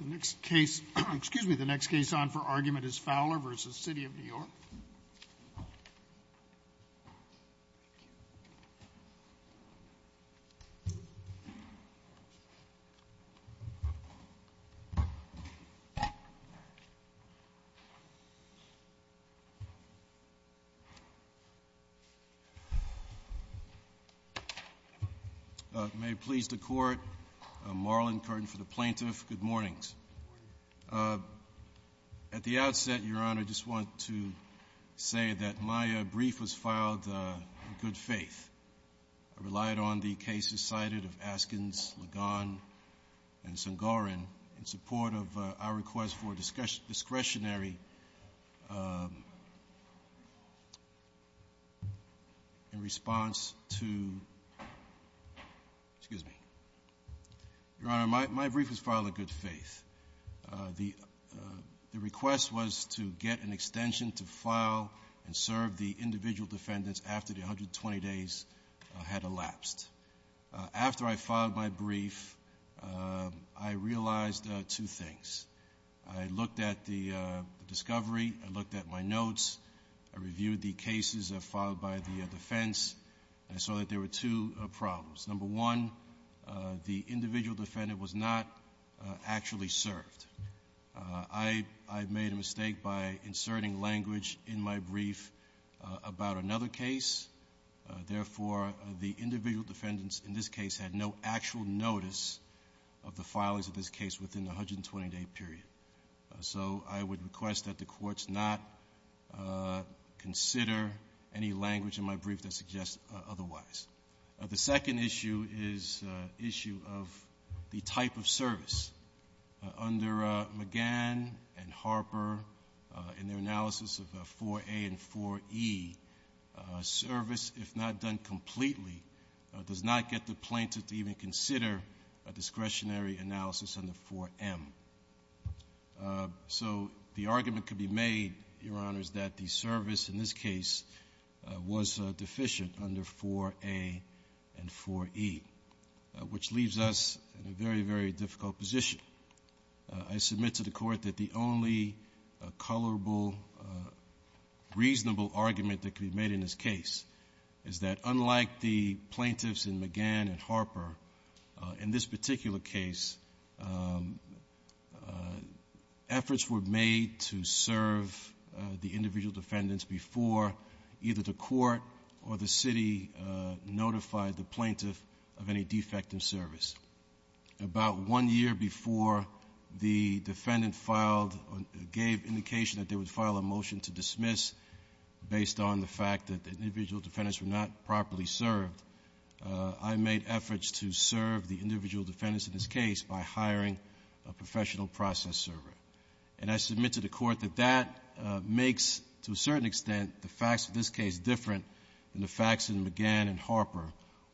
The next case, excuse me, the next case on for argument is Fowler v. The City of New York. May it please the court, Marlon Curtin for the plaintiff, good morning. At the outset, Your Honor, I just want to say that my brief was filed in good faith. I relied on the cases cited of Askins, Ligon, and Sangorin in support of our request for discretionary in response to, excuse me, Your Honor, my brief was filed in good faith. The request was to get an extension to file and serve the individual defendants after the 120 days had elapsed. After I filed my brief, I realized two things. I looked at the discovery, I looked at my notes, I saw that there were two problems. Number one, the individual defendant was not actually served. I made a mistake by inserting language in my brief about another case, therefore, the individual defendants in this case had no actual notice of the filings of this case within the 120-day period. So I would request that the courts not consider any language in my brief that suggests otherwise. The second issue is issue of the type of service. Under McGann and Harper, in their analysis of 4A and 4E, service, if not done completely, does not get the plaintiff to even consider a discretionary analysis under 4M. So the plaintiffs are deficient under 4A and 4E, which leaves us in a very, very difficult position. I submit to the Court that the only colorable, reasonable argument that could be made in this case is that unlike the plaintiffs in McGann and Harper, in this particular case, efforts were made to serve the individual defendants before either the Court or the city notified the plaintiff of any defect in service. About one year before the defendant filed or gave indication that they would file a motion to dismiss based on the fact that the individual defendants were not properly served, I made efforts to serve the individual defendants in this case by hiring a professional process server. And I submit to the Court that that makes, to a certain extent, the facts of this case different than the facts in McGann and Harper,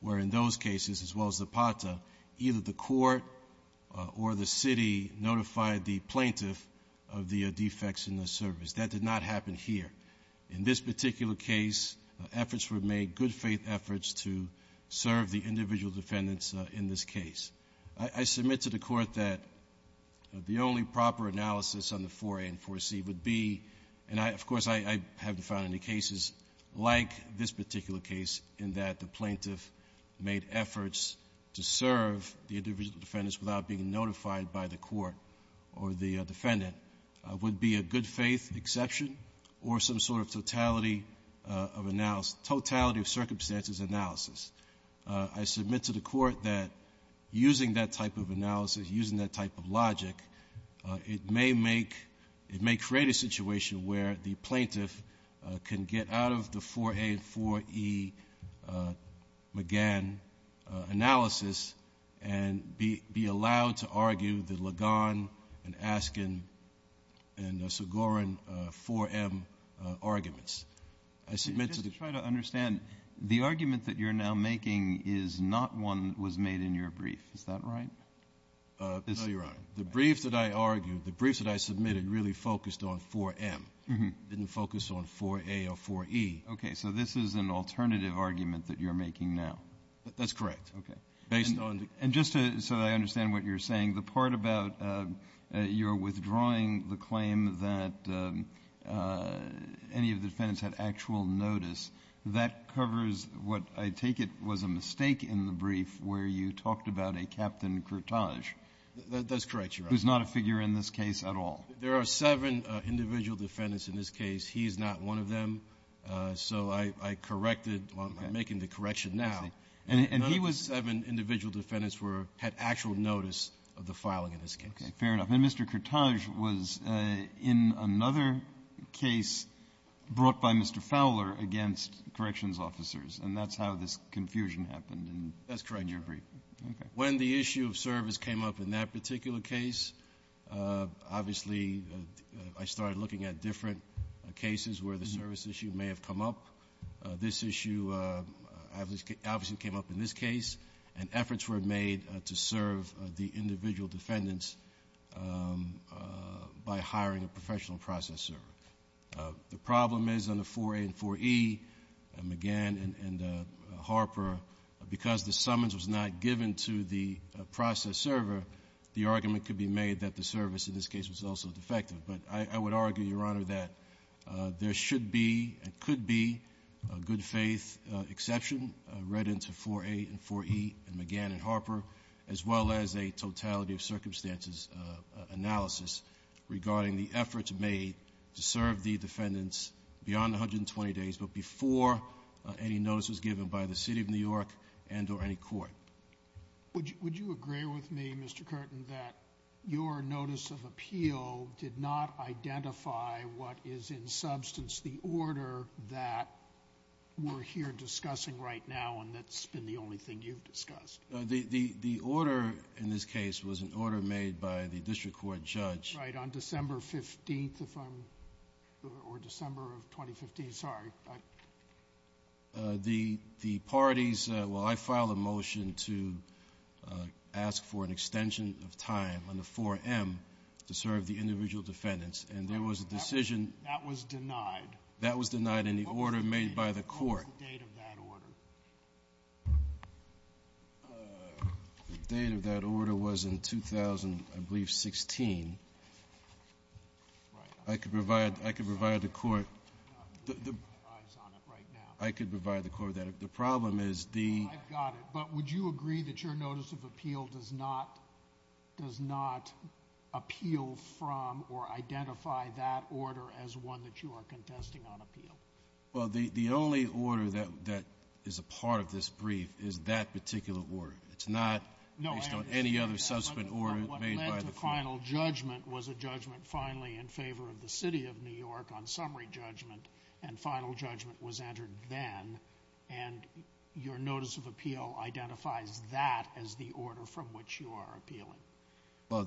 where in those cases, as well as Zapata, either the Court or the city notified the plaintiff of the defects in the service. That did not happen here. In this particular case, efforts were made, good-faith efforts, to serve the individual defendants in this case. I submit to the Court that the only proper analysis on the 4A and 4C would be, and I, of course, I haven't found any cases like this particular case, in that the plaintiff made efforts to serve the individual defendants without being notified by the Court or the defendant, would be a good-faith exception or some sort of totality of analysis, totality of circumstances analysis. I submit to the Court that using that type of analysis, using that type of logic, it may make — it may create a situation where the plaintiff can get out of the 4A and 4E McGann analysis and be — be allowed to argue the Ligon and Askin and Segorin 4M arguments. I submit to the Court — making is not one that was made in your brief. Is that right? No, Your Honor. The briefs that I argued, the briefs that I submitted, really focused on 4M. Didn't focus on 4A or 4E. Okay. So this is an alternative argument that you're making now. That's correct. Okay. Based on the — And just to — so that I understand what you're saying, the part about you're withdrawing the claim that any of the defendants had actual notice, that covers what I take it was a mistake in the brief where you talked about a Captain Kertaj. That's correct, Your Honor. Who's not a figure in this case at all. There are seven individual defendants in this case. He's not one of them. So I corrected while I'm making the correction now. And he was seven individual defendants who had actual notice of the filing in this case. Okay. Fair enough. And Mr. Kertaj was in another case brought by Mr. Fowler against corrections officers. And that's how this confusion happened in your brief. That's correct, Your Honor. Okay. When the issue of service came up in that particular case, obviously I started looking at different cases where the service issue may have come up. This issue obviously came up in this case. And efforts were made to serve the individual defendants by hiring a professional process server. The problem is on the 4A and 4E, McGann and Harper, because the summons was not given to the process server, the argument could be made that the service in this case was also defective. But I would argue, Your Honor, that there should be and could be a good faith exception read into 4A and 4E and McGann and Harper, as well as a totality of defendants beyond 120 days, but before any notice was given by the City of New York and or any court. Would you agree with me, Mr. Curtin, that your notice of appeal did not identify what is in substance the order that we're here discussing right now and that's been the only thing you've discussed? The order in this case was an order made by the district court judge. Right. On December 15th, or December of 2015, sorry. The parties, well, I filed a motion to ask for an extension of time on the 4M to serve the individual defendants. And there was a decision. That was denied. That was denied in the order made by the court. What was the date of that order? The date of that order was in 2000, I believe, 16. I could provide the court. I could provide the court that. The problem is the. I've got it. But would you agree that your notice of appeal does not appeal from or identify that order as one that you are contesting on appeal? Well, the only order that is a part of this brief is that particular order. It's not based on any other subsequent order made by the court. What led to final judgment was a judgment finally in favor of the city of New York on summary judgment and final judgment was entered then. And your notice of appeal identifies that as the order from which you are appealing. Well,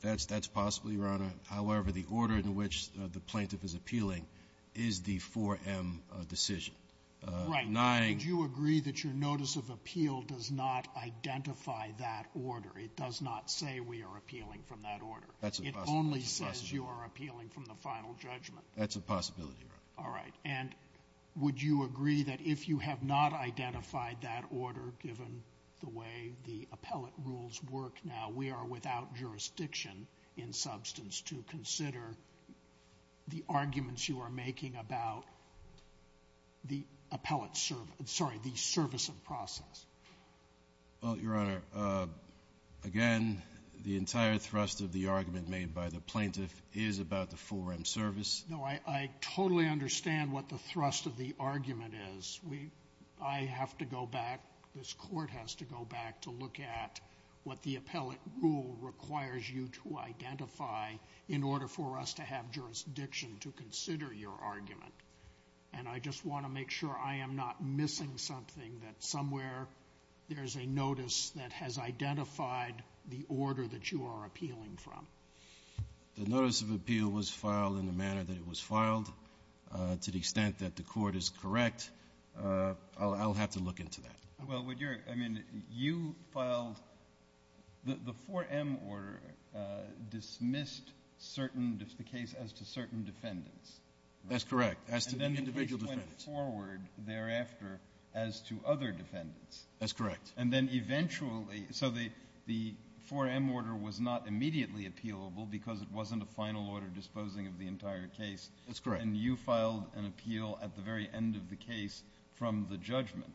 that's possible, Your Honor. However, the order in which the plaintiff is appealing is the 4M decision. Right. Now, would you agree that your notice of appeal does not identify that order? It does not say we are appealing from that order. That's a possibility. It only says you are appealing from the final judgment. That's a possibility, Your Honor. All right. And would you agree that if you have not identified that order, given the way the argument is, to consider the arguments you are making about the appellate service, sorry, the service of process? Well, Your Honor, again, the entire thrust of the argument made by the plaintiff is about the 4M service. No, I totally understand what the thrust of the argument is. We — I have to go back, this Court has to go back to look at what the appellate rule requires you to identify in order for us to have jurisdiction to consider your argument. And I just want to make sure I am not missing something, that somewhere there is a notice that has identified the order that you are appealing from. The notice of appeal was filed in the manner that it was filed. To the extent that the Court is correct, I'll have to look into that. Well, would your — I mean, you filed — the 4M order dismissed certain — the case as to certain defendants. That's correct. As to individual defendants. And then it went forward thereafter as to other defendants. That's correct. And then eventually — so the 4M order was not immediately appealable because it wasn't a final order disposing of the entire case. That's correct. And you filed an appeal at the very end of the case from the judgment.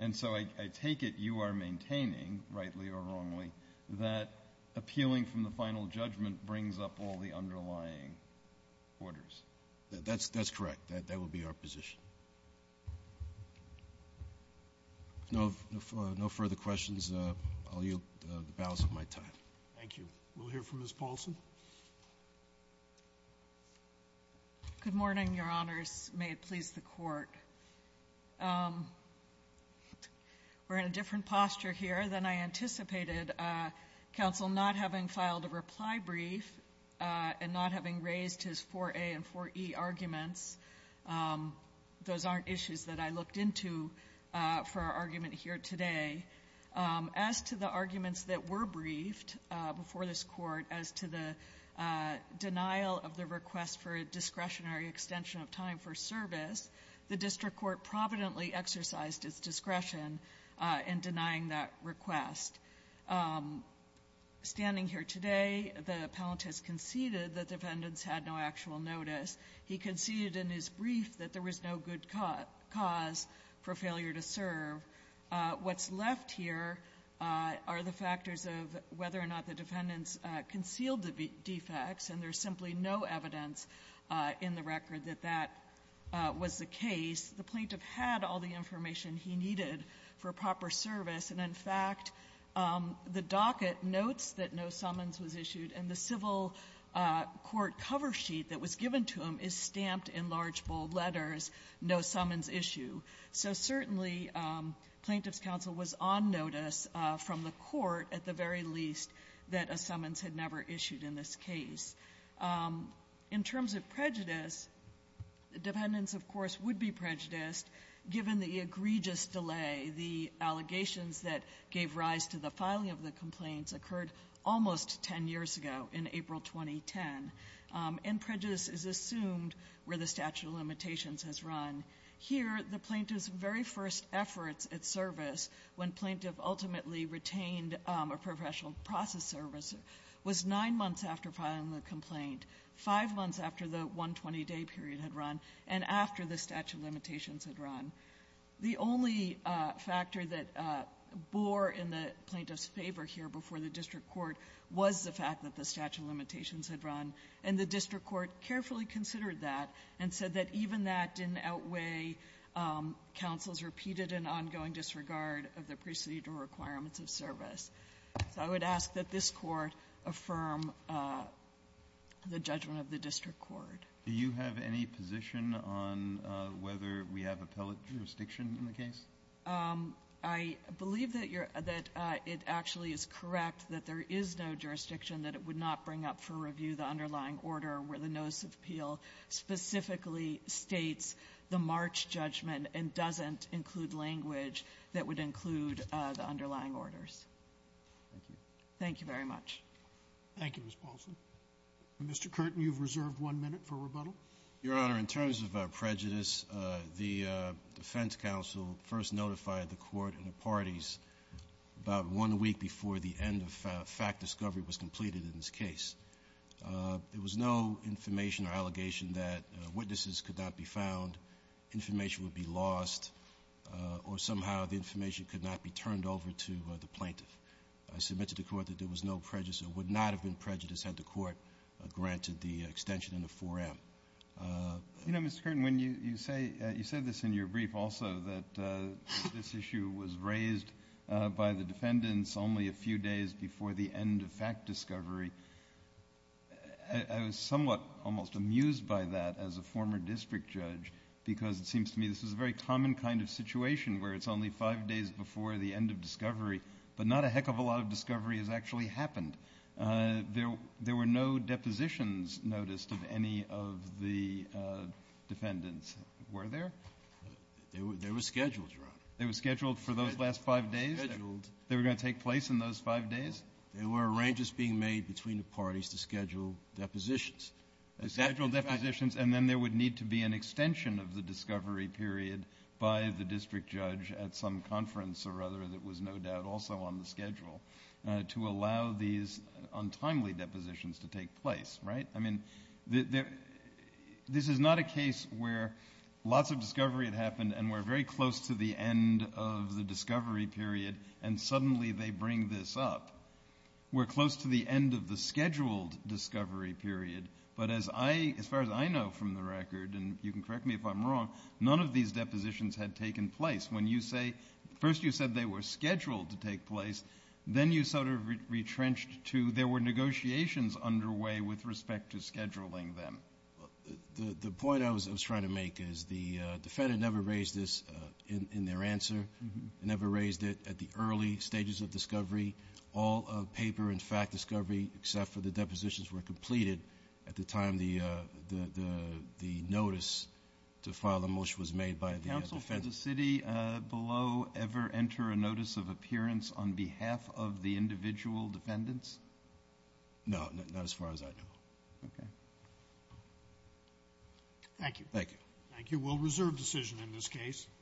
And so I take it you are maintaining, rightly or wrongly, that appealing from the final judgment brings up all the underlying orders. That's correct. That would be our position. No further questions. I'll yield the balance of my time. Thank you. We'll hear from Ms. Paulson. Good morning, Your Honors. May it please the Court. We're in a different posture here than I anticipated, counsel, not having filed a reply brief and not having raised his 4A and 4E arguments. Those aren't issues that I looked into for our argument here today. As to the arguments that were briefed before this Court as to the denial of the request for a discretionary extension of time for service, the district court providently exercised its discretion in denying that request. Standing here today, the appellant has conceded that defendants had no actual notice. He conceded in his brief that there was no good cause for failure to serve. What's left here are the factors of whether or not the defendants concealed the defects, and there's simply no evidence in the record that that was the case. The plaintiff had all the information he needed for proper service. And, in fact, the docket notes that no summons was issued, and the civil court cover sheet that was given to him is stamped in large, bold letters, no summons issue. So certainly, Plaintiff's counsel was on notice from the Court, at the very least, that a summons had never issued in this case. In terms of prejudice, defendants, of course, would be prejudiced given the egregious delay. The allegations that gave rise to the filing of the complaints occurred almost ten years ago, in April 2010, and prejudice is assumed where the statute of limitations has run. Here, the plaintiff's very first efforts at service, when plaintiff ultimately retained a professional process service, was nine months after filing the complaint, five months after the 120-day period had run, and after the statute of limitations had run. The only factor that bore in the plaintiff's favor here before the district court was the fact that the statute of limitations had run, and the district court carefully considered that and said that even that didn't outweigh counsel's repeated and ongoing disregard of the procedural requirements of service. So I would ask that this Court affirm the judgment of the district court. Kennedy. Do you have any position on whether we have appellate jurisdiction in the case? I believe that you're — that it actually is correct that there is no jurisdiction that it would not bring up for review the underlying order where the notice of appeal specifically states the March judgment and doesn't include language that would include the underlying orders. Thank you. Thank you very much. Thank you, Ms. Paulson. Mr. Curtin, you've reserved one minute for rebuttal. Your Honor, in terms of prejudice, the defense counsel first notified the Court and the parties about one week before the end of fact discovery was completed in this case. There was no information or allegation that witnesses could not be found, information would be lost, or somehow the information could not be turned over to the plaintiff. I submit to the Court that there was no prejudice. There would not have been prejudice had the Court granted the extension in the 4M. You know, Mr. Curtin, when you say — you said this in your brief also, that this issue was raised by the defendants only a few days before the end of fact discovery. I was somewhat almost amused by that as a former district judge, because it seems to me this is a very common kind of situation where it's only five days before the end of discovery, but not a heck of a lot of discovery has actually happened. There were no depositions noticed of any of the defendants. Were there? There were scheduled, Your Honor. There were scheduled for those last five days? Scheduled. They were going to take place in those five days? There were arrangements being made between the parties to schedule depositions. Scheduled depositions, and then there would need to be an extension of the discovery period by the district judge at some conference or other that was no doubt also on the schedule to allow these untimely depositions to take place, right? I mean, this is not a case where lots of discovery had happened and we're very close to the end of the discovery period, and suddenly they bring this up. We're close to the end of the scheduled discovery period, but as far as I know from the record, and you can correct me if I'm wrong, none of these depositions had taken place. When you say, first you said they were scheduled to take place, then you sort of retrenched to there were negotiations underway with respect to scheduling them. The point I was trying to make is the defendant never raised this in their answer, never raised it at the early stages of discovery. All of paper and fact discovery except for the depositions were completed at the time the notice to file the motion was made by the defendant. Did counsel for the city below ever enter a notice of appearance on behalf of the individual defendants? No, not as far as I know. Okay. Thank you. Thank you. We'll reserve decision in this case.